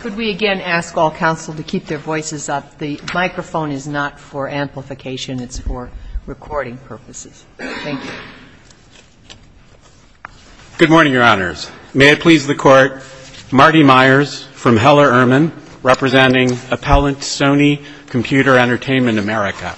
Could we again ask all counsel to keep their voices up? The microphone is not for amplification. It's for recording purposes. Thank you. Good morning, Your Honors. May it please the Court, Marty Myers from Heller Erman, representing Appellant Sony Computer Entertainment America.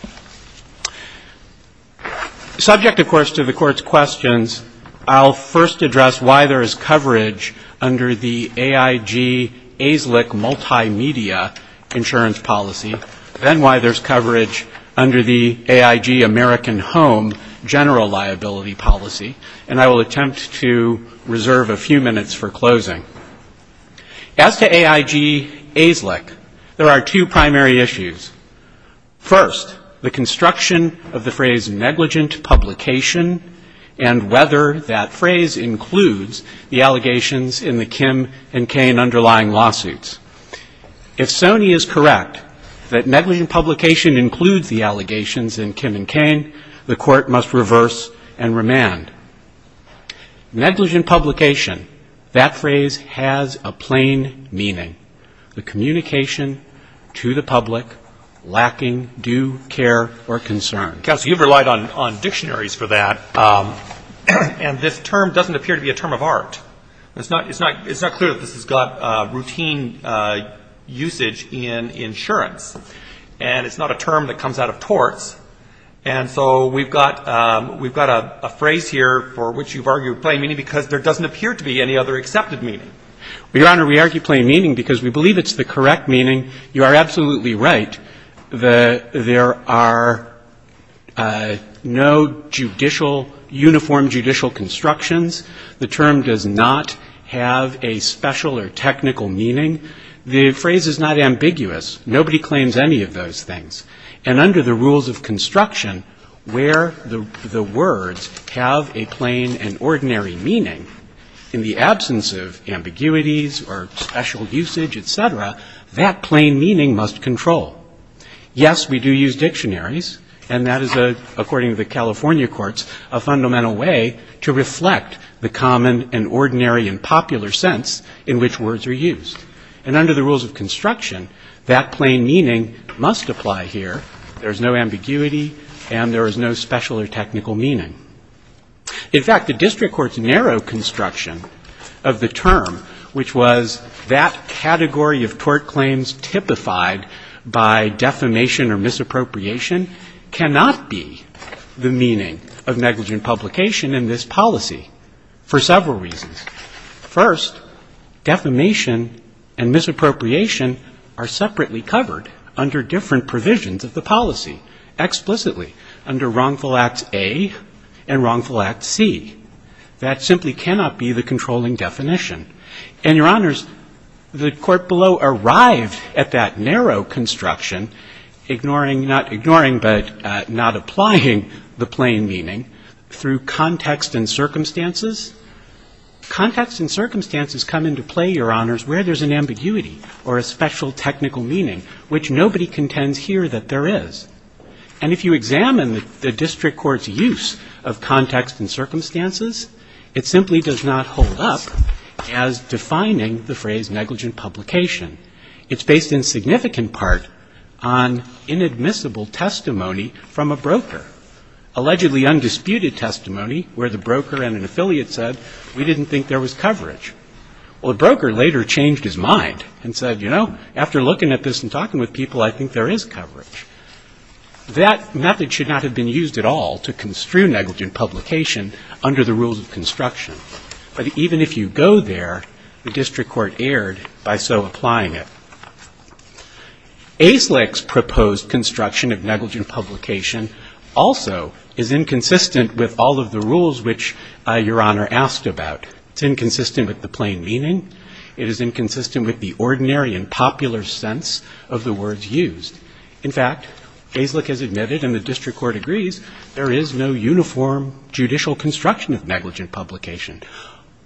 Subject, of course, to the Court's questions, I'll first address why there is coverage under the Appellant Sony Computer Entertainment America. AIG ASLIC multimedia insurance policy, then why there's coverage under the AIG American Home general liability policy. And I will attempt to reserve a few minutes for closing. As to AIG ASLIC, there are two primary issues. First, the construction of the phrase negligent publication, and whether that phrase includes the allegations in the Kim and Cain underlying lawsuits. If Sony is correct that negligent publication includes the allegations in Kim and Cain, the Court must reverse and remand. Negligent publication, that phrase has a plain meaning, the communication to the public lacking due care or concern. Counsel, you've relied on dictionaries for that, and this term doesn't appear to be a term of art. It's not clear that this has got routine usage in insurance, and it's not a term that comes out of torts. And so we've got a phrase here for which you've argued plain meaning because there doesn't appear to be any other accepted meaning. Well, Your Honor, we argue plain meaning because we believe it's the correct meaning. You are absolutely right that there are no judicial, uniform judicial constructions. The term does not have a special or technical meaning. The phrase is not ambiguous. Nobody claims any of those things. And under the rules of construction, where the words have a plain and ordinary meaning, in the absence of ambiguities or special usage, et cetera, that plain meaning must control. Yes, we do use dictionaries, and that is, according to the California courts, a fundamental way to reflect the common and ordinary and popular sense in which words are used. And under the rules of construction, that plain meaning must apply here. There is no ambiguity, and there is no special or technical meaning. In fact, the district court's narrow construction of the term, which was that category of tort claims typified by defamation or misappropriation, cannot be the meaning of negligent publication in this policy for several reasons. First, defamation and misappropriation are separately covered under different provisions of the policy. Explicitly, under Wrongful Act A and Wrongful Act C. That simply cannot be the controlling definition. And, Your Honors, the court below arrived at that narrow construction, ignoring, not ignoring, but not applying the plain meaning through context and circumstances. Context and circumstances come into play, Your Honors, where there's an ambiguity or a special technical meaning, which nobody contends here that there is. And if you examine the district court's use of context and circumstances, it simply does not hold up as defining the phrase negligent publication. It's based in significant part on inadmissible testimony from a broker, allegedly undisputed testimony where the broker and an affiliate said, we didn't think there was coverage. Well, the broker later changed his mind and said, you know, after looking at this and talking with people, I think there is coverage. That method should not have been used at all to construe negligent publication under the rules of construction. But even if you go there, the district court erred by so applying it. AISLIC's proposed construction of negligent publication also is inconsistent with all of the rules which Your Honor asked about. It's inconsistent with the plain meaning. It is inconsistent with the ordinary and popular sense of the words used. In fact, AISLIC has admitted, and the district court agrees, there is no uniform judicial construction of negligent publication.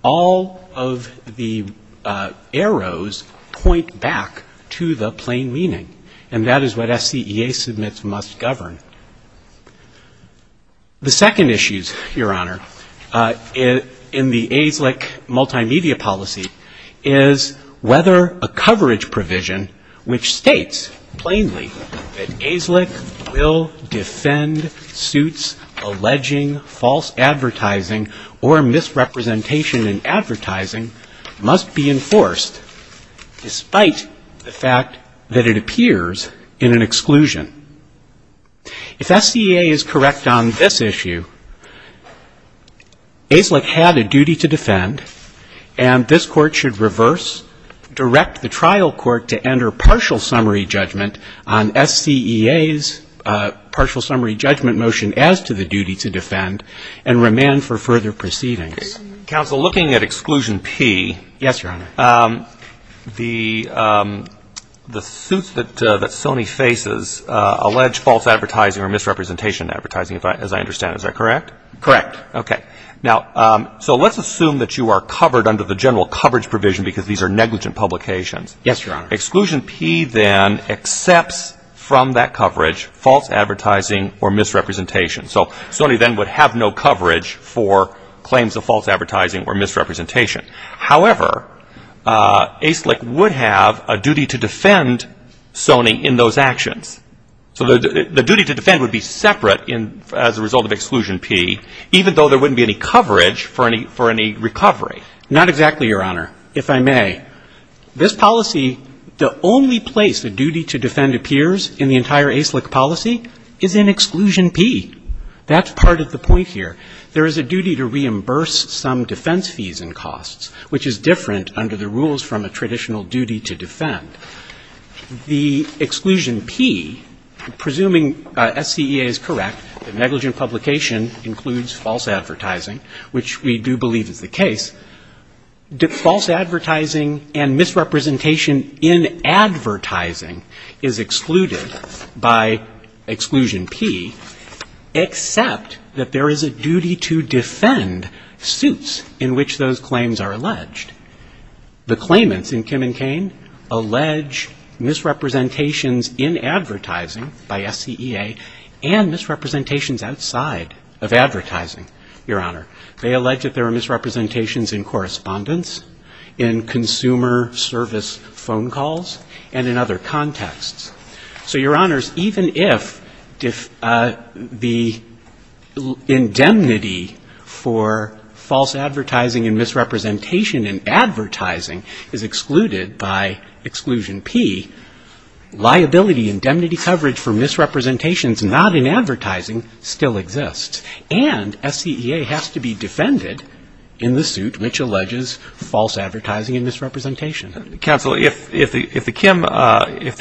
All of the arrows point back to the plain meaning, and that is what SCEA submits must govern. The second issue, Your Honor, in the AISLIC multimedia policy is whether a coverage provision which states plainly that AISLIC will defend suits alleging false advertising or misrepresentation in advertising must be enforced, despite the fact that it appears in an exclusion. If SCEA is correct on this issue, AISLIC had a duty to defend, and this court should reverse, direct the trial court to enter partial summary judgment on SCEA's partial summary judgment motion as to the duty to defend, and remand for further proceedings. Counsel, looking at exclusion P, the suits that Sony faces allege false advertising or misrepresentation in advertising, as I understand. Is that correct? Correct. Okay. Now, so let's assume that you are covered under the general coverage provision because these are negligent publications. Yes, Your Honor. Exclusion P then accepts from that coverage false advertising or misrepresentation. So Sony then would have no coverage for claims of false advertising or misrepresentation. However, AISLIC would have a duty to defend Sony in those actions. So the duty to defend would be separate as a result of exclusion P, even though there wouldn't be any coverage for any recovery. Not exactly, Your Honor, if I may. This policy, the only place the duty to defend appears in the entire AISLIC policy is in exclusion P. That's part of the point here. There is a duty to reimburse some defense fees and costs, which is different under the rules from a traditional duty to defend. The exclusion P, presuming SCEA is correct, negligent publication includes false advertising, which we do believe is the case, false advertising and misrepresentation in advertising is excluded by exclusion P. Except that there is a duty to defend suits in which those claims are alleged. The claimants in Kim and Cain allege misrepresentations in advertising by SCEA and misrepresentations outside of advertising, Your Honor. They allege that there are misrepresentations in correspondence, in consumer service phone calls, and in other contexts. So, Your Honors, even if the indemnity for false advertising and misrepresentation in advertising is excluded by exclusion P, liability, indemnity coverage for misrepresentations not in advertising still exists. And SCEA has to be defended in the suit which alleges false advertising and misrepresentation. Counsel, if the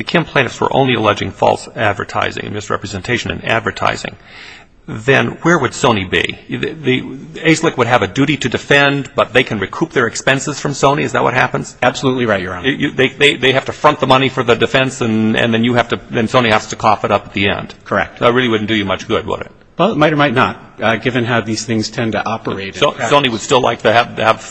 Kim plaintiffs were only alleging false advertising and misrepresentation in advertising, then where would Sony be? The ASLIC would have a duty to defend, but they can recoup their expenses from Sony, is that what happens? Absolutely right, Your Honor. They have to front the money for the defense, and then you have to, then Sony has to cough it up at the end. Correct. So it really wouldn't do you much good, would it? Well, it might or might not, given how these things tend to operate. Sony would still like to have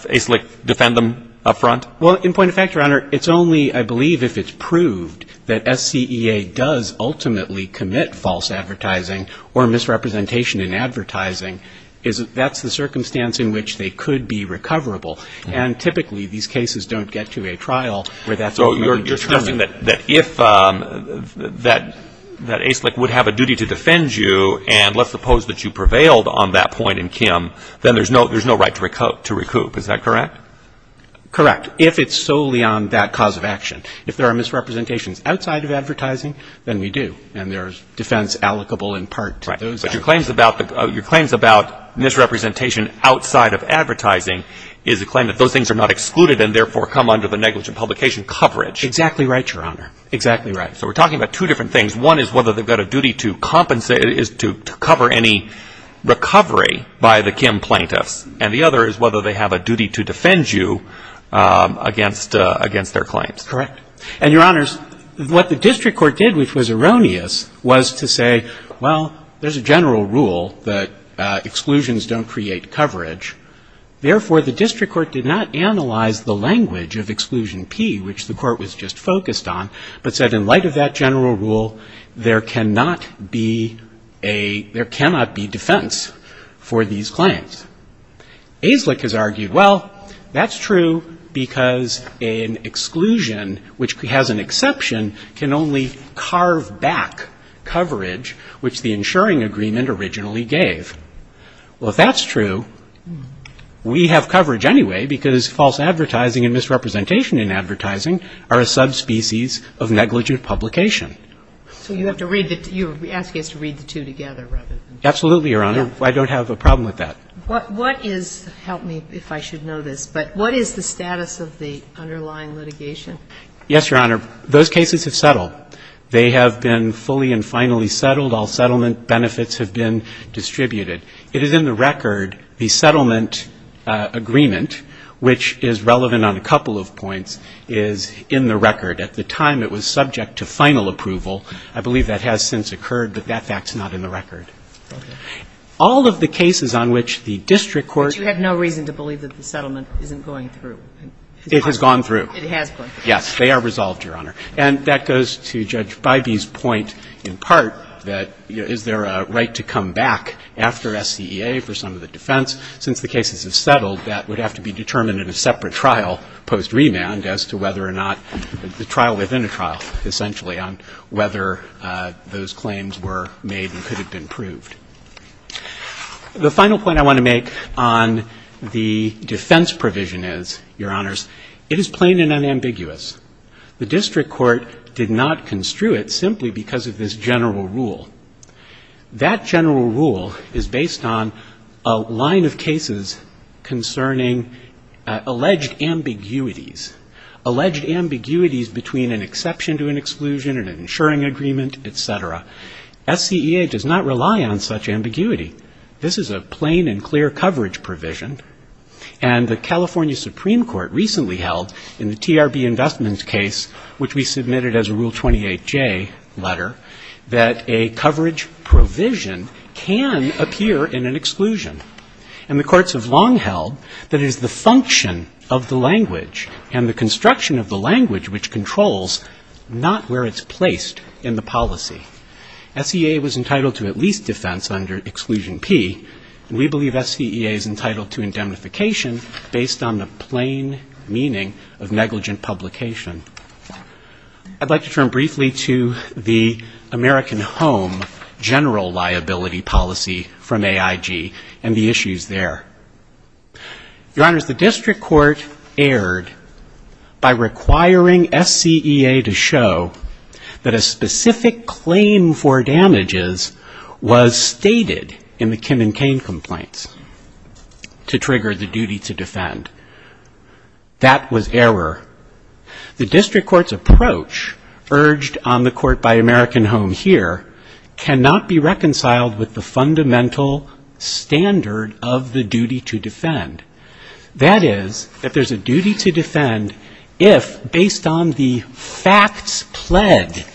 ASLIC defend them up front? Well, in point of fact, Your Honor, it's only, I believe, if it's proved that SCEA does ultimately commit false advertising and have a duty to defend you, and let's suppose that you prevailed on that point in Kim, then there's no right to recoup. Is that correct? Correct. If there are misrepresentations outside of advertising, then we do, and there's defense allocable in part to those. But your claims about misrepresentation outside of advertising is a claim that those things are not excluded and therefore come under the negligent publication coverage. Exactly right, Your Honor, exactly right. So we're talking about two different things. One is whether they've got a duty to compensate, is to cover any recovery by the Kim plaintiffs, and the other is whether they have a duty to defend you against their claims. Correct. And, Your Honors, what the district court did, which was erroneous, was to say, well, there's a general rule that exclusions don't create coverage. Therefore, the district court did not analyze the language of Exclusion P, which the court was just focused on, but said in light of that general rule, there cannot be defense for these claims. Aislik has argued, well, that's true because an exclusion, which has an exception, can only carve back coverage, which the insuring agreement originally gave. Well, if that's true, we have coverage anyway because false advertising and misrepresentation in advertising are a subspecies of negligent publication. So you have to read the two, you're asking us to read the two together rather than. Absolutely, Your Honor. I don't have a problem with that. What is, help me if I should know this, but what is the status of the underlying litigation? Yes, Your Honor. Those cases have settled. They have been fully and finally settled. All settlement benefits have been distributed. It is in the record, the settlement agreement, which is relevant on a couple of points, is in the record. At the time, it was subject to final approval. I believe that has since occurred, but that fact is not in the record. All of the cases on which the district court. But you have no reason to believe that the settlement isn't going through. It has gone through. It has gone through. Yes, they are resolved, Your Honor. And that goes to Judge Bybee's point in part that, you know, is there a right to come back after SCEA for some of the defense? Since the cases have settled, that would have to be determined in a separate trial post-remand as to whether or not, the trial within a trial, essentially, on whether those claims were made and could have been proved. The final point I want to make on the defense provision is, Your Honors, it is plain and unambiguous. The district court did not construe it simply because of this general rule. That general rule is based on a line of cases concerning alleged ambiguities, alleged ambiguities between an exception to an exclusion and an insuring agreement, et cetera. SCEA does not rely on such ambiguity. This is a plain and clear coverage provision. And the California Supreme Court recently held in the TRB Investments case, which we submitted as a Rule 28J letter, that a coverage provision can appear in an exclusion. And the courts have long held that it is the function of the language and the construction of the language which controls not where it's placed in the policy. SCEA was entitled to at least defense under Exclusion P. And we believe SCEA is entitled to indemnification based on the plain meaning of negligent publication. I'd like to turn briefly to the American Home general liability policy from AIG and the issues there. Your Honors, the district court erred by requiring SCEA to show that a specific claim for damages was stated in the Kim and Cain complaints to trigger the duty to defend. That was error. The district court's approach urged on the court by American Home here cannot be reconciled with the fundamental standard of the duty to defend. That is, that there's a duty to defend if, based on the facts pledged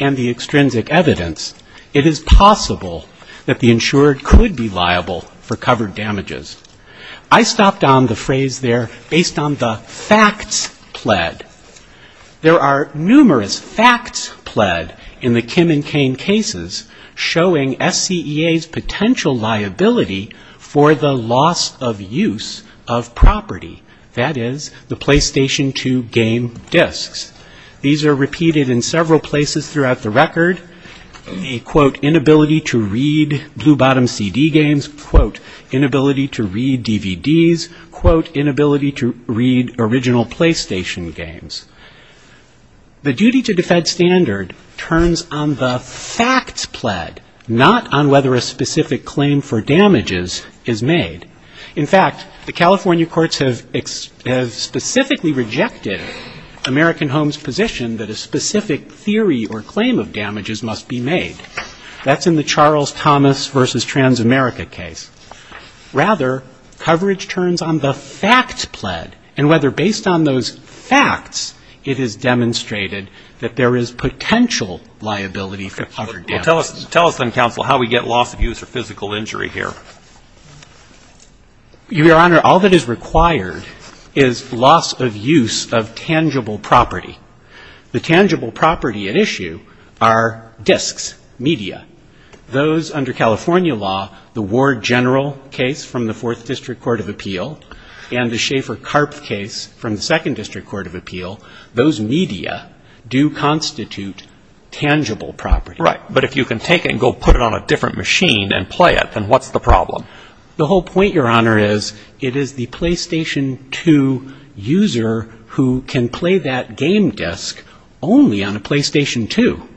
and the extrinsic evidence, it is possible that the insured could be liable for covered damages. I stopped on the phrase there, based on the facts pled. There are numerous facts pled in the Kim and Cain cases showing SCEA's potential liability for the loss of use of property, that is, the PlayStation 2 game discs. These are repeated in several places throughout the record. The, quote, inability to read Blue Bottom CD games, quote, inability to read DVDs, quote, inability to read original PlayStation games. The duty to defend standard turns on the facts pled, not on whether a specific claim for damages is made. In fact, the California courts have specifically rejected American Home's position that a specific theory or claim of damages must be made. That's in the Charles Thomas v. Transamerica case. Rather, coverage turns on the facts pled and whether, based on those facts, it is demonstrated that there is potential liability for covered damages. Tell us then, counsel, how we get loss of use or physical injury here. Your Honor, all that is required is loss of use of tangible property. The tangible property at issue are discs, media. Those under California law, the Ward General case from the Fourth District Court of Appeal and the Schaefer-Karpf case from the Second District Court of Appeal, those media do constitute tangible property. Right, but if you can take it and go put it on a different machine and play it, then what's the problem? The whole point, Your Honor, is it is the PlayStation 2 user who can play that game disc only on a PlayStation 2.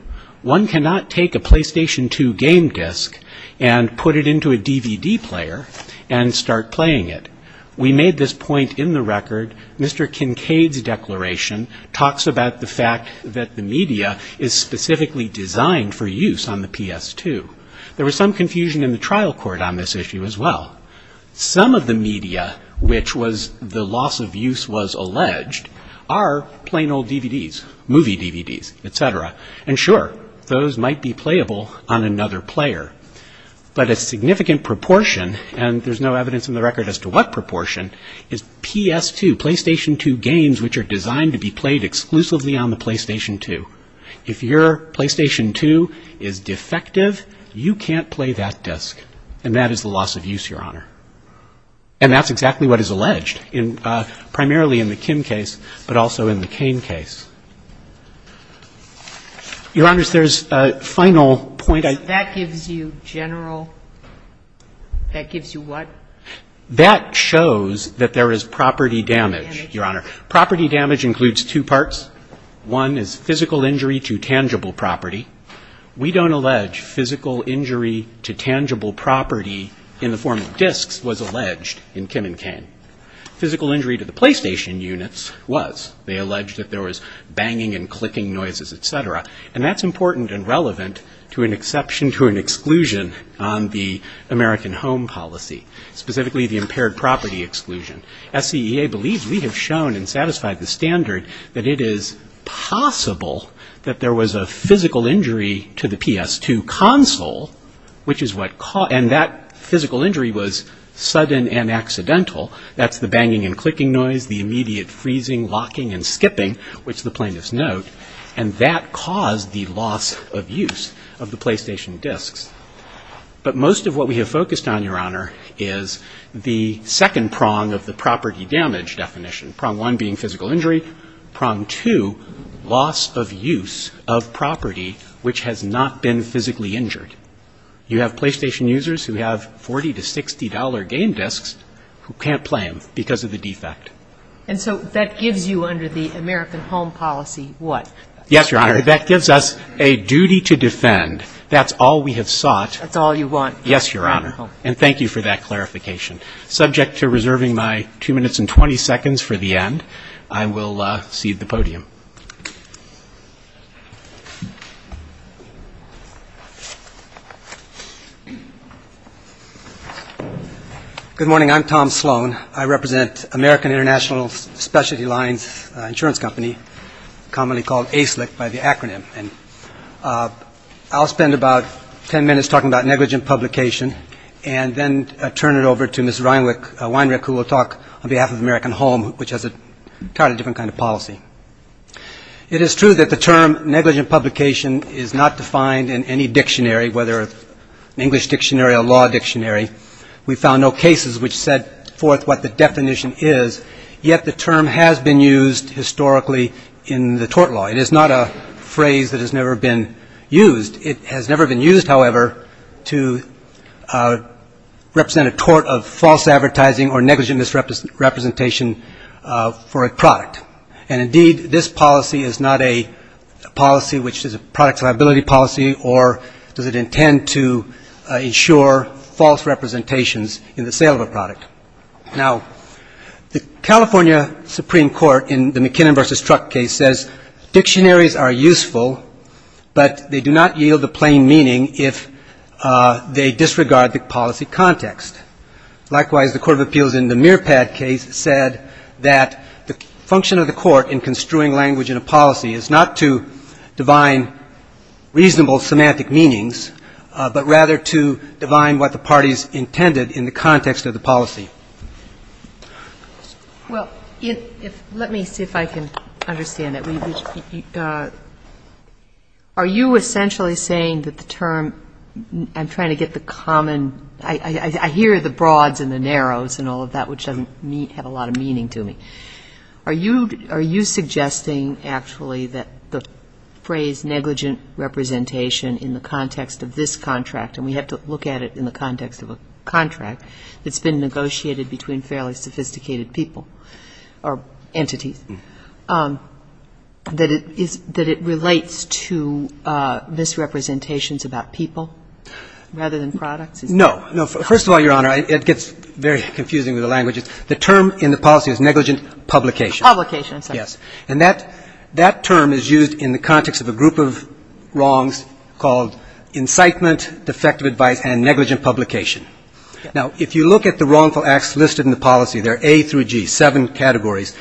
One cannot take a PlayStation 2 game disc and put it into a DVD player and start playing it. We made this point in the record. Mr. Kincaid's declaration talks about the fact that the media is specifically designed for use on the PS2. There was some confusion in the trial court on this issue as well. Some of the media which was the loss of use was alleged are plain old DVDs, movie DVDs, et cetera. And sure, those might be playable on another player. But a significant proportion, and there's no evidence in the record as to what proportion, is PS2, PlayStation 2 games which are designed to be played exclusively on the PlayStation 2. If your PlayStation 2 is defective, you can't play that disc. And that is the loss of use, Your Honor. And that's exactly what is alleged, primarily in the Kim case, but also in the Kane case. Your Honors, there's a final point I'd like to make. That gives you general? That gives you what? That shows that there is property damage, Your Honor. Property damage includes two parts. One is physical injury to tangible property. We don't allege physical injury to tangible property in the form of discs was alleged in Kim and Kane. Physical injury to the PlayStation units was. They alleged that there was banging and clicking noises, et cetera. And that's important and relevant to an exception to an exclusion on the American home policy, specifically the impaired property exclusion. SCEA believes we have shown and satisfied the standard that it is possible that there was a physical injury to the PS2 console, and that physical injury was sudden and accidental. That's the banging and clicking noise, the immediate freezing, locking, and skipping, which the plaintiffs note. And that caused the loss of use of the PlayStation discs. But most of what we have focused on, Your Honor, is the second prong of the property damage definition, prong one being physical injury, prong two, loss of use of property which has not been physically injured. You have PlayStation users who have $40 to $60 game discs who can't play them because of the defect. And so that gives you under the American home policy what? Yes, Your Honor. That gives us a duty to defend. That's all we have sought. That's all you want. Yes, Your Honor. And thank you for that clarification. Subject to reserving my 2 minutes and 20 seconds for the end, I will cede the podium. Good morning. I'm Tom Sloan. I represent American International Specialty Lines Insurance Company, commonly called ASLIC by the acronym. I'll spend about 10 minutes talking about negligent publication and then turn it over to Ms. Weinrich who will talk on behalf of American Home, which has an entirely different kind of policy. It is true that the term negligent publication is not defined in any dictionary, whether an English dictionary or a law dictionary. We found no cases which set forth what the definition is. Yet the term has been used historically in the tort law. It is not a phrase that has never been used. It has never been used, however, to represent a tort of false advertising or negligent misrepresentation for a product. And indeed, this policy is not a policy which is a product liability policy or does it intend to ensure false representations in the sale of a product. Now, the California Supreme Court in the McKinnon v. Truck case says dictionaries are useful, but they do not yield a plain meaning if they disregard the policy context. Likewise, the Court of Appeals in the Mearpad case said that the function of the court in construing language in a policy is not to divine reasonable semantic meanings, but rather to divine what the parties intended in the context of the policy. Well, let me see if I can understand it. Are you essentially saying that the term – I'm trying to get the common – I hear the broads and the narrows and all of that, which doesn't have a lot of meaning to me. Are you suggesting actually that the phrase negligent representation in the context of this contract, and we have to look at it in the context of a contract that's been negotiated between fairly sophisticated people or entities, that it relates to misrepresentations about people rather than products? No. No. First of all, Your Honor, it gets very confusing with the language. The term in the policy is negligent publication. Publication. Yes. And that term is used in the context of a group of wrongs called incitement, defective advice, and negligent publication. Now, if you look at the wrongful acts listed in the policy, they're A through G, seven categories.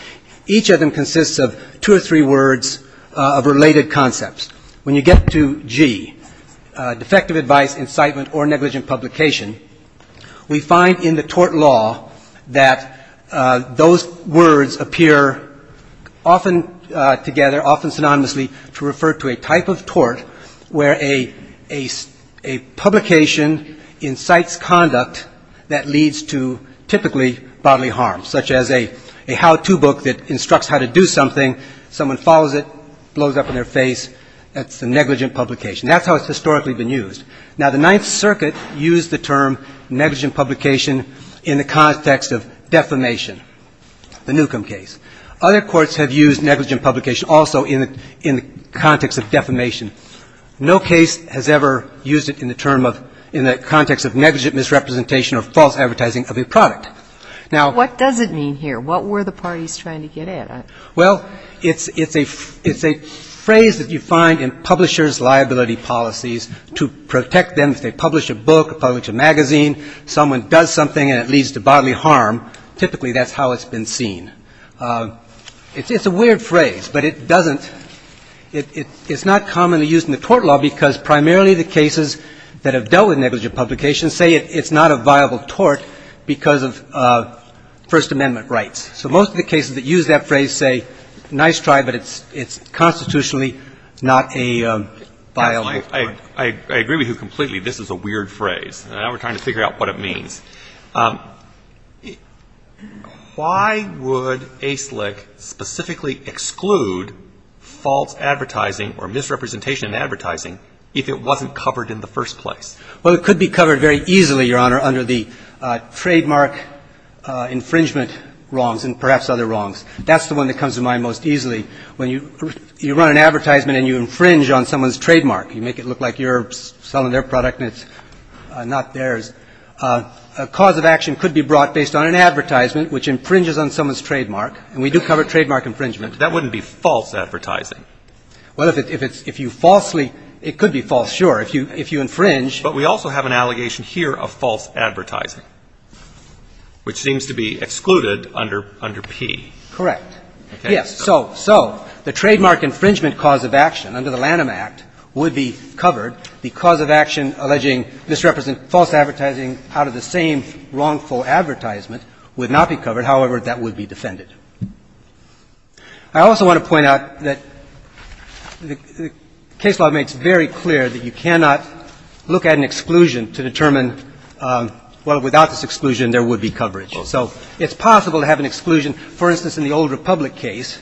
Each of them consists of two or three words of related concepts. When you get to G, defective advice, incitement, or negligent publication, we find in the tort law that those words appear often together, often synonymously, to refer to a type of tort where a publication incites conduct that leads to typically bodily harm, such as a how-to book that instructs how to do something, someone follows it, blows up in their face, that's a negligent publication. That's how it's historically been used. Now, the Ninth Circuit used the term negligent publication in the context of defamation, the Newcomb case. Other courts have used negligent publication also in the context of defamation. No case has ever used it in the context of negligent misrepresentation or false advertising of a product. Now — What does it mean here? What were the parties trying to get at? Well, it's a phrase that you find in publishers' liability policies to protect them if they publish a book or publish a magazine, someone does something and it leads to bodily harm, typically that's how it's been seen. It's a weird phrase, but it doesn't — it's not commonly used in the tort law because primarily the cases that have dealt with negligent publication say it's not a viable tort because of First Amendment rights. So most of the cases that use that phrase say nice try, but it's constitutionally not a viable tort. I agree with you completely. This is a weird phrase. Now we're trying to figure out what it means. Why would ASLIC specifically exclude false advertising or misrepresentation in advertising if it wasn't covered in the first place? Well, it could be covered very easily, Your Honor, under the trademark infringement wrongs and perhaps other wrongs. That's the one that comes to mind most easily when you run an advertisement and you infringe on someone's trademark. You make it look like you're selling their product and it's not theirs. A cause of action could be brought based on an advertisement which infringes on someone's trademark, and we do cover trademark infringement. That wouldn't be false advertising. Well, if it's — if you falsely — it could be false, sure. If you infringe — But we also have an allegation here of false advertising, which seems to be excluded under P. Correct. Yes. So the trademark infringement cause of action under the Lanham Act would be covered. The cause of action alleging misrepresent — false advertising out of the same wrongful advertisement would not be covered. However, that would be defended. I also want to point out that the case law makes very clear that you cannot look at an exclusion to determine, well, without this exclusion, there would be coverage. So it's possible to have an exclusion, for instance, in the Old Republic case,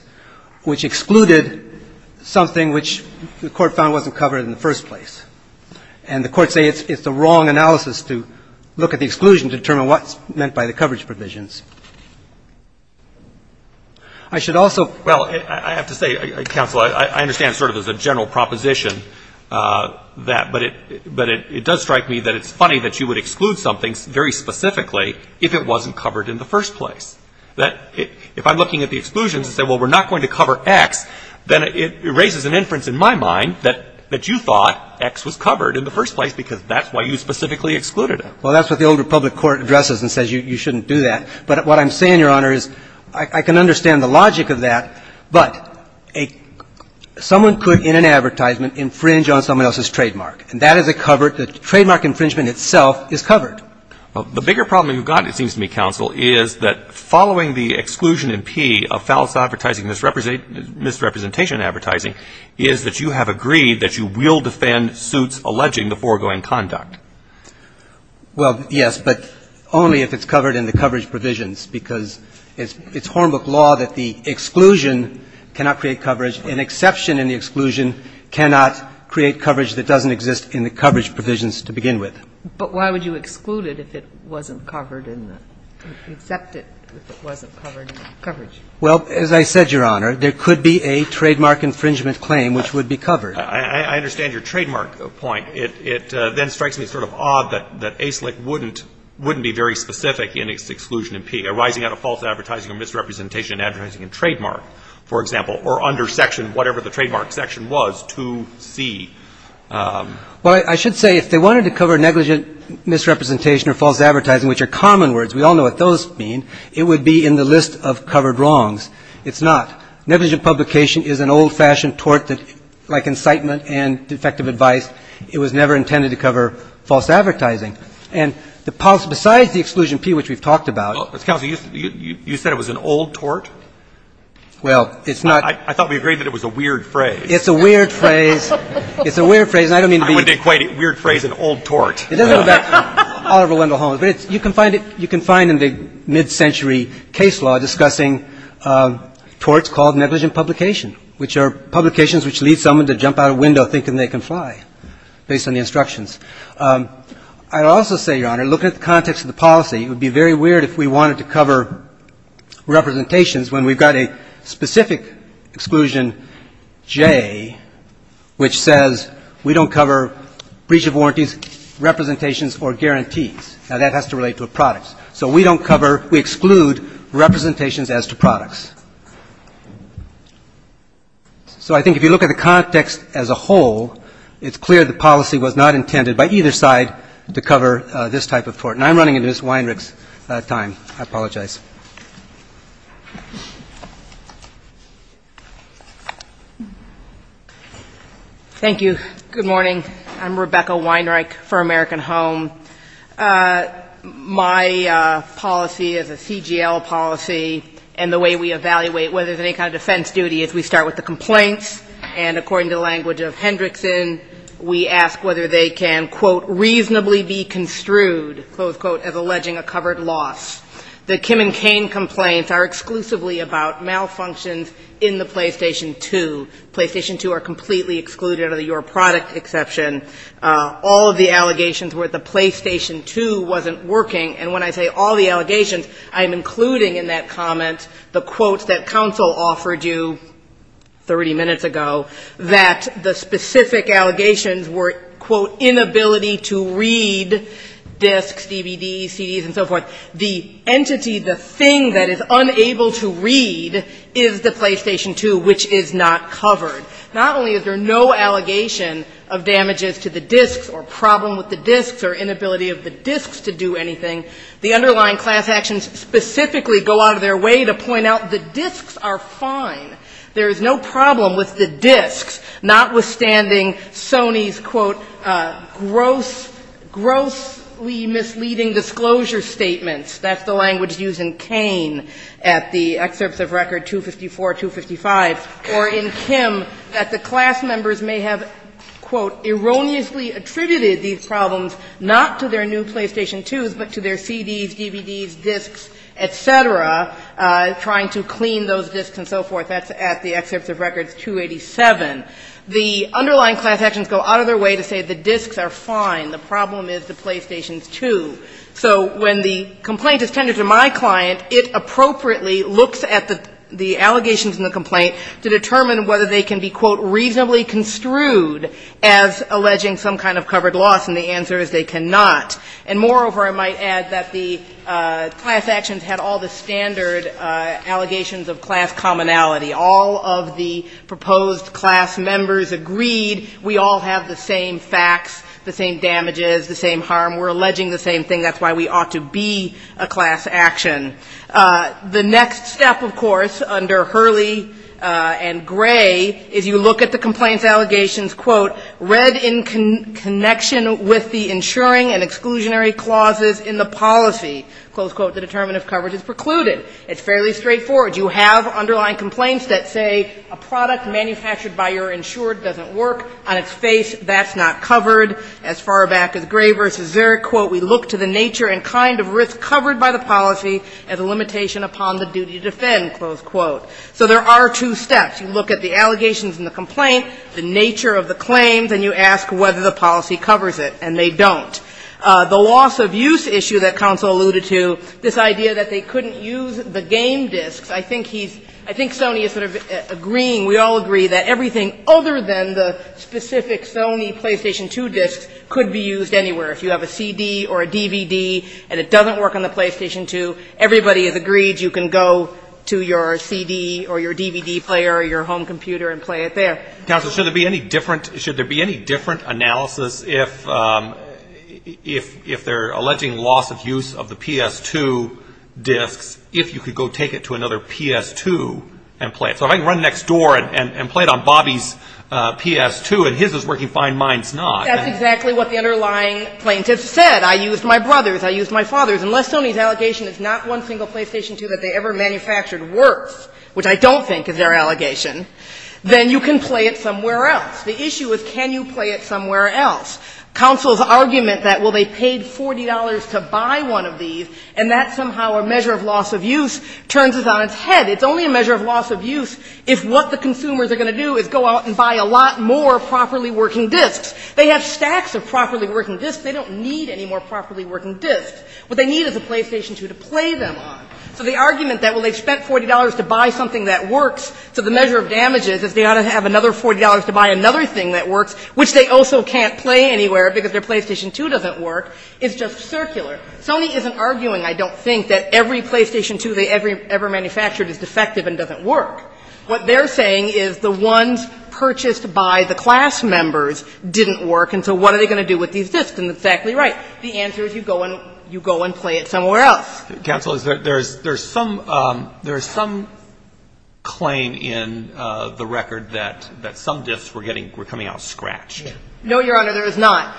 which excluded something which the Court found wasn't covered in the first place. And the courts say it's the wrong analysis to look at the exclusion to determine what's meant by the coverage provisions. I should also — Well, I have to say, Counsel, I understand sort of as a general proposition that — but it does strike me that it's funny that you would exclude something very specifically if it wasn't covered in the first place. That — if I'm looking at the exclusions and say, well, we're not going to cover X, then it raises an inference in my mind that you thought X was covered in the first place because that's why you specifically excluded it. Well, that's what the Old Republic Court addresses and says you shouldn't do that. But what I'm saying, Your Honor, is I can understand the logic of that, but someone could, in an advertisement, infringe on someone else's trademark. And that is a covered — the trademark infringement itself is covered. Well, the bigger problem you've got, it seems to me, Counsel, is that following the exclusion in P of fallacy advertising and misrepresentation advertising is that you have agreed that you will defend suits alleging the foregoing conduct. Well, yes, but only if it's covered in the coverage provisions, because it's Hornbook law that the exclusion cannot create coverage. An exception in the exclusion cannot create coverage that doesn't exist in the coverage provisions to begin with. But why would you exclude it if it wasn't covered in the — accept it if it wasn't covered in the coverage? Well, as I said, Your Honor, there could be a trademark infringement claim which would be covered. I understand your trademark point. It then strikes me sort of odd that ASLIC wouldn't be very specific in its exclusion in P, arising out of false advertising or misrepresentation advertising in trademark, for example, or under section whatever the trademark section was, 2C. Well, I should say if they wanted to cover negligent misrepresentation or false advertising, which are common words, we all know what those mean, it would be in the list of covered wrongs. It's not. Negligent publication is an old-fashioned tort that, like incitement and defective advice, it was never intended to cover false advertising. And the — besides the exclusion P, which we've talked about — Counsel, you said it was an old tort? Well, it's not — I thought we agreed that it was a weird phrase. It's a weird phrase. It's a weird phrase, and I don't mean to be — I wouldn't equate weird phrase and old tort. It doesn't go back Oliver Wendell Holmes. But you can find it — you can find in the mid-century case law discussing torts called negligent publication, which are publications which lead someone to jump out a window thinking they can fly based on the instructions. I'd also say, Your Honor, looking at the context of the policy, it would be very weird if we wanted to cover representations when we've got a specific exclusion J, which says we don't cover breach of warranties, representations, or guarantees. Now, that has to relate to a product. So we don't cover — we exclude representations as to products. So I think if you look at the context as a whole, it's clear the policy was not intended by either side to cover this type of tort. And I'm running into Ms. Weinreich's time. I apologize. Thank you. Good morning. I'm Rebecca Weinreich for American Home. My policy is a CGL policy. And the way we evaluate whether there's any kind of defense duty is we start with the complaints. And according to the language of Hendrickson, we ask whether they can, quote, reasonably be construed, close quote, as alleging a covered loss. The Kim and Cain complaints are exclusively about malfunctions in the PlayStation 2. PlayStation 2 are completely excluded under the Your Product exception. All of the allegations were that the PlayStation 2 wasn't working. And when I say all the allegations, I'm including in that comment the quotes that counsel offered you 30 minutes ago, that the specific allegations were, quote, inability to read discs, DVDs, CDs, and so forth. The entity, the thing that is unable to read is the PlayStation 2, which is not covered. Not only is there no allegation of damages to the discs or problem with the discs or inability of the discs to do anything, the underlying class actions specifically go out of their way to point out the discs are fine. There is no problem with the discs, notwithstanding Sony's, quote, grossly misleading disclosure statements. That's the language used in Cain at the excerpts of record 254, 255. Or in Kim, that the class members may have, quote, erroneously attributed these problems not to their new PlayStation 2s, but to their CDs, DVDs, discs, et cetera, trying to clean those discs and so forth. That's at the excerpts of records 287. The underlying class actions go out of their way to say the discs are fine. The problem is the PlayStation 2. So when the complaint is tended to my client, it appropriately looks at the allegations in the complaint to determine whether they can be, quote, reasonably construed as alleging some kind of covered loss. And the answer is they cannot. And moreover, I might add that the class actions had all the standard allegations of class commonality. All of the proposed class members agreed we all have the same facts, the same damages, the same harm. We're alleging the same thing. That's why we ought to be a class action. The next step, of course, under Hurley and Gray is you look at the complaints allegations, quote, read in connection with the insuring and exclusionary clauses in the policy. Close quote. The determinative coverage is precluded. It's fairly straightforward. You have underlying complaints that say a product manufactured by your insured doesn't work. On its face, that's not covered. As far back as Gray v. Zurich, quote, we look to the nature and kind of risk covered by the policy as a limitation upon the duty to defend, close quote. So there are two steps. You look at the allegations in the complaint, the nature of the claims, and you ask whether the policy covers it, and they don't. The loss of use issue that counsel alluded to, this idea that they couldn't use the game discs, I think he's – I think Sony is sort of agreeing, we all agree, that everything other than the specific Sony PlayStation 2 discs could be used anywhere. If you have a CD or a DVD and it doesn't work on the PlayStation 2, everybody has agreed you can go to your CD or your DVD player or your home computer and play it there. Counsel, should there be any different – should there be any different analysis if – if their alleging loss of use of the PS2 discs, if you could go take it to another PS2 and play it? So if I can run next door and play it on Bobby's PS2 and his is working fine, mine's not. That's exactly what the underlying plaintiff said. I used my brother's. I used my father's. Unless Sony's allegation is not one single PlayStation 2 that they ever manufactured worth, which I don't think is their allegation, then you can play it somewhere else. The issue is can you play it somewhere else. Counsel's argument that, well, they paid $40 to buy one of these, and that somehow a measure of loss of use turns us on its head. It's only a measure of loss of use if what the consumers are going to do is go out and buy a lot more properly working discs. They have stacks of properly working discs. They don't need any more properly working discs. What they need is a PlayStation 2 to play them on. So the argument that, well, they spent $40 to buy something that works to the measure of damages is they ought to have another $40 to buy another thing that works, which they also can't play anywhere because their PlayStation 2 doesn't work, is just circular. Sony isn't arguing, I don't think, that every PlayStation 2 they ever manufactured is defective and doesn't work. What they're saying is the ones purchased by the class members didn't work, and so what are they going to do with these discs? And it's exactly right. The answer is you go and play it somewhere else. Counsel, there's some claim in the record that some discs were coming out scratched. No, Your Honor, there is not.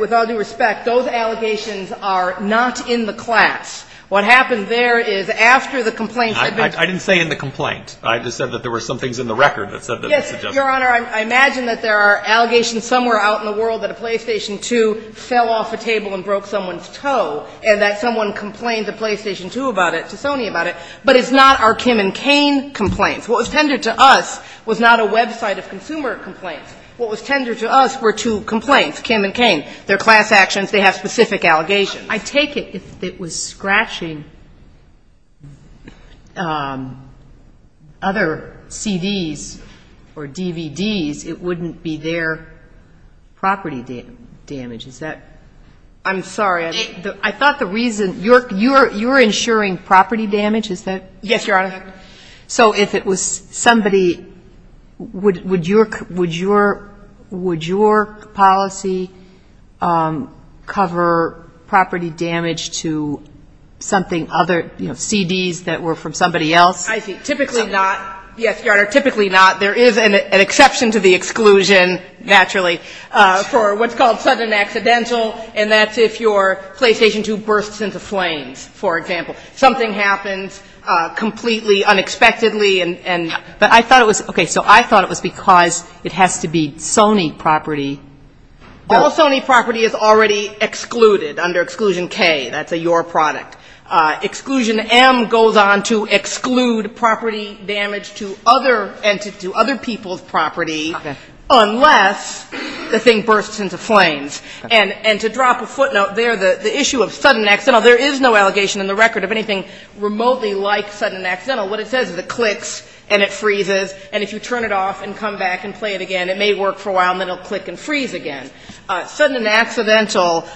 With all due respect, those allegations are not in the class. What happened there is after the complaints had been ---- I didn't say in the complaint. I just said that there were some things in the record that said that they suggested ---- Yes, Your Honor, I imagine that there are allegations somewhere out in the world that a PlayStation 2 fell off a table and broke someone's toe and that someone complained to PlayStation 2 about it, to Sony about it. But it's not our Kim and Cain complaints. What was tendered to us was not a website of consumer complaints. What was tendered to us were two complaints, Kim and Cain. They're class actions. They have specific allegations. I take it if it was scratching other CDs or DVDs, it wouldn't be their property damage. Is that ---- I'm sorry. I thought the reason ---- You're insuring property damage, is that correct? Yes, Your Honor. So if it was somebody ---- would your policy cover property damage to something other, you know, CDs that were from somebody else? I see. Typically not. Yes, Your Honor, typically not. There is an exception to the exclusion, naturally, for what's called sudden accidental, and that's if your PlayStation 2 bursts into flames, for example. If something happens completely unexpectedly and ---- But I thought it was ---- Okay. So I thought it was because it has to be Sony property. All Sony property is already excluded under Exclusion K. That's a your product. Exclusion M goes on to exclude property damage to other people's property unless the thing bursts into flames. And to drop a footnote there, the issue of sudden accidental, there is no allegation in the record of anything remotely like sudden accidental. What it says is it clicks and it freezes, and if you turn it off and come back and play it again, it may work for a while, and then it will click and freeze again. Sudden accidental,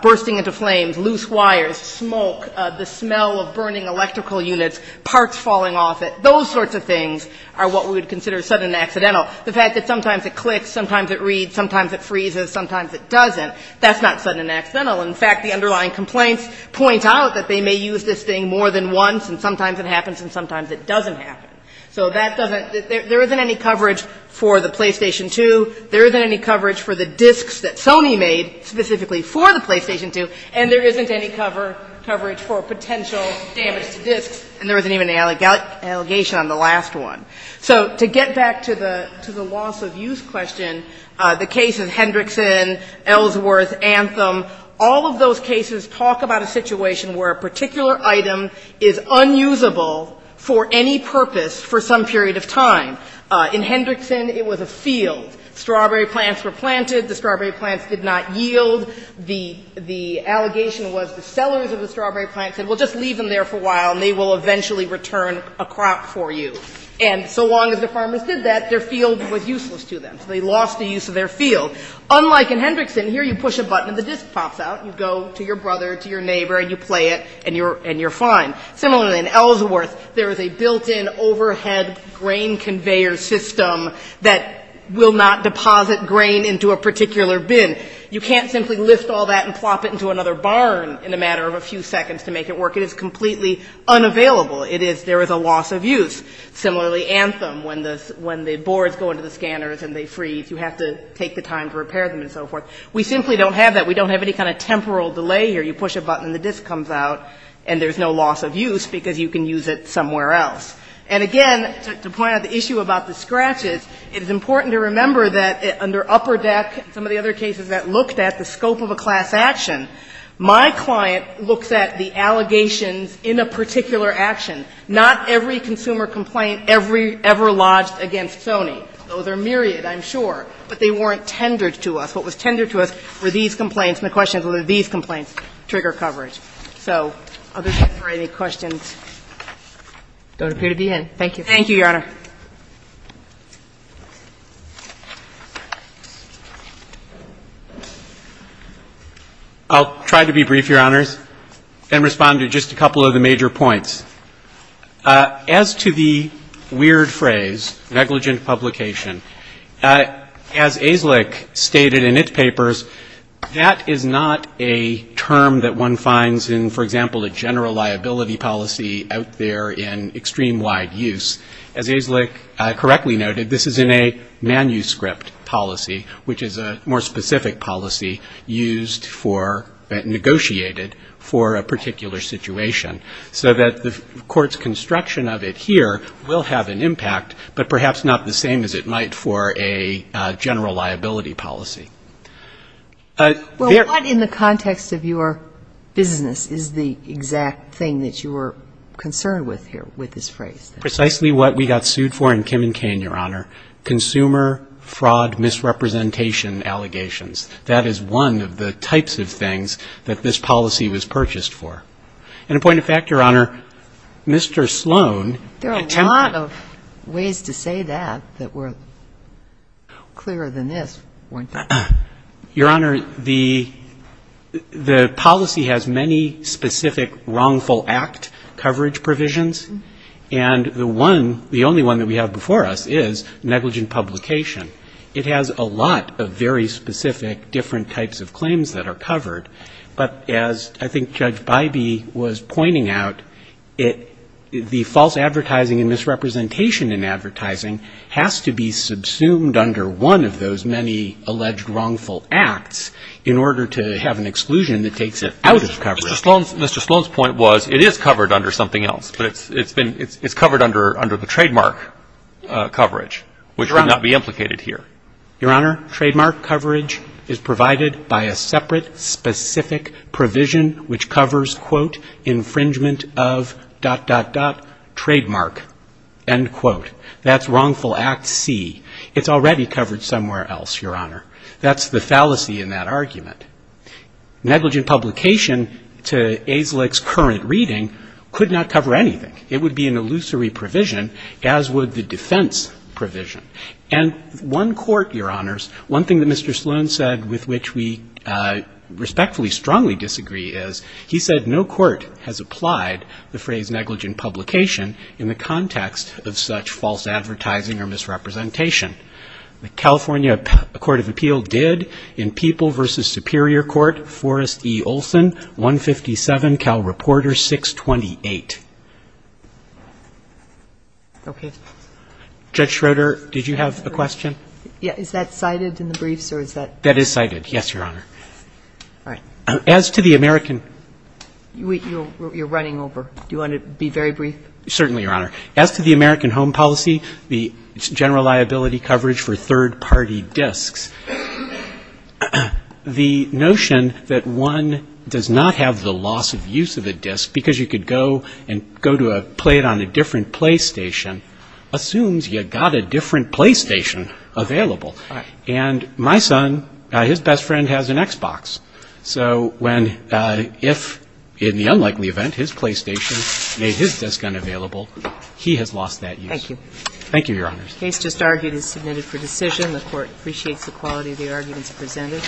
bursting into flames, loose wires, smoke, the smell of burning electrical units, parts falling off it, those sorts of things are what we would consider sudden accidental. The fact that sometimes it clicks, sometimes it reads, sometimes it freezes, sometimes it doesn't, that's not sudden accidental. In fact, the underlying complaints point out that they may use this thing more than once, and sometimes it happens and sometimes it doesn't happen. So that doesn't ---- There isn't any coverage for the PlayStation 2. There isn't any coverage for the discs that Sony made specifically for the PlayStation 2. And there isn't any coverage for potential damage to discs. And there isn't even an allegation on the last one. So to get back to the loss of use question, the case of Hendrickson, Ellsworth, Anthem, all of those cases talk about a situation where a particular item is unusable for any purpose for some period of time. In Hendrickson, it was a field. Strawberry plants were planted. The strawberry plants did not yield. The allegation was the sellers of the strawberry plants said, well, just leave them there for a while and they will eventually return a crop for you. And so long as the farmers did that, their field was useless to them. So they lost the use of their field. Unlike in Hendrickson, here you push a button and the disc pops out. You go to your brother, to your neighbor, and you play it and you're fine. Similarly, in Ellsworth, there is a built-in overhead grain conveyor system that will not deposit grain into a particular bin. You can't simply lift all that and plop it into another barn in a matter of a few seconds to make it work. It is completely unavailable. There is a loss of use. Similarly, Anthem, when the boards go into the scanners and they freeze, you have to take the time to repair them and so forth. We simply don't have that. We don't have any kind of temporal delay here. You push a button and the disc comes out and there's no loss of use because you can use it somewhere else. And again, to point out the issue about the scratches, it is important to remember that under Upper Deck and some of the other cases that looked at the scope of a class action, my client looks at the allegations in a particular action. Not every consumer complaint ever lodged against Sony, though there are myriad, I'm sure, but they weren't tendered to us. What was tendered to us were these complaints. And the question is, were these complaints trigger coverage? So, others, if there are any questions. Thank you, Your Honor. I'll try to be brief, Your Honors, and respond to just a couple of the major points. As to the weird phrase, negligent publication, as AZLIC stated in its papers, that is not a term that one finds in, for example, a general liability policy out there in extreme wide use. As AZLIC correctly noted, this is in a manuscript policy, which is a more specific policy used for, negotiated for a particular situation. So that the court's construction of it here will have an impact, but perhaps not the same as it might for a general liability policy. Well, what in the context of your business is the exact thing that you were concerned with here with this phrase? Precisely what we got sued for in Kim and Cain, Your Honor, consumer fraud misrepresentation allegations. That is one of the types of things that this policy was purchased for. And a point of fact, Your Honor, Mr. Sloan. There are a lot of ways to say that that were clearer than this, weren't they? Your Honor, the policy has many specific wrongful act coverage provisions, and the one, the only one that we have before us is negligent publication. It has a lot of very specific different types of claims that are covered. But as I think Judge Bybee was pointing out, the false advertising and misrepresentation in advertising has to be subsumed under one of those many alleged wrongful acts in order to have an exclusion that takes it out of coverage. Mr. Sloan's point was it is covered under something else, but it's been, it's covered under the trademark coverage, which would not be implicated here. Your Honor, trademark coverage is provided by a separate specific provision which covers, quote, infringement of, dot, dot, dot, trademark, end quote. That's wrongful act C. It's already covered somewhere else, Your Honor. That's the fallacy in that argument. Negligent publication to AZLIC's current reading could not cover anything. It would be an illusory provision, as would the defense provision. And one court, Your Honors, one thing that Mr. Sloan said with which we respectfully strongly disagree is, he said no court has applied the phrase negligent publication in the context of such false advertising or misrepresentation. The California Court of Appeal did in People v. Superior Court, Forrest v. Olson, 157, Cal Reporter 628. Okay. Judge Schroeder, did you have a question? Yeah. Is that cited in the briefs or is that? That is cited. Yes, Your Honor. All right. As to the American. You're running over. Do you want to be very brief? Certainly, Your Honor. As to the American Home Policy, the general liability coverage for third-party discs, the notion that one does not have the loss of use of a disc because you could go and play it on a different PlayStation assumes you got a different PlayStation available. Right. And my son, his best friend has an Xbox. So when, if in the unlikely event his PlayStation made his disc unavailable, he has lost that use. Thank you. Thank you, Your Honor. The case just argued is submitted for decision. The Court appreciates the quality of the arguments presented.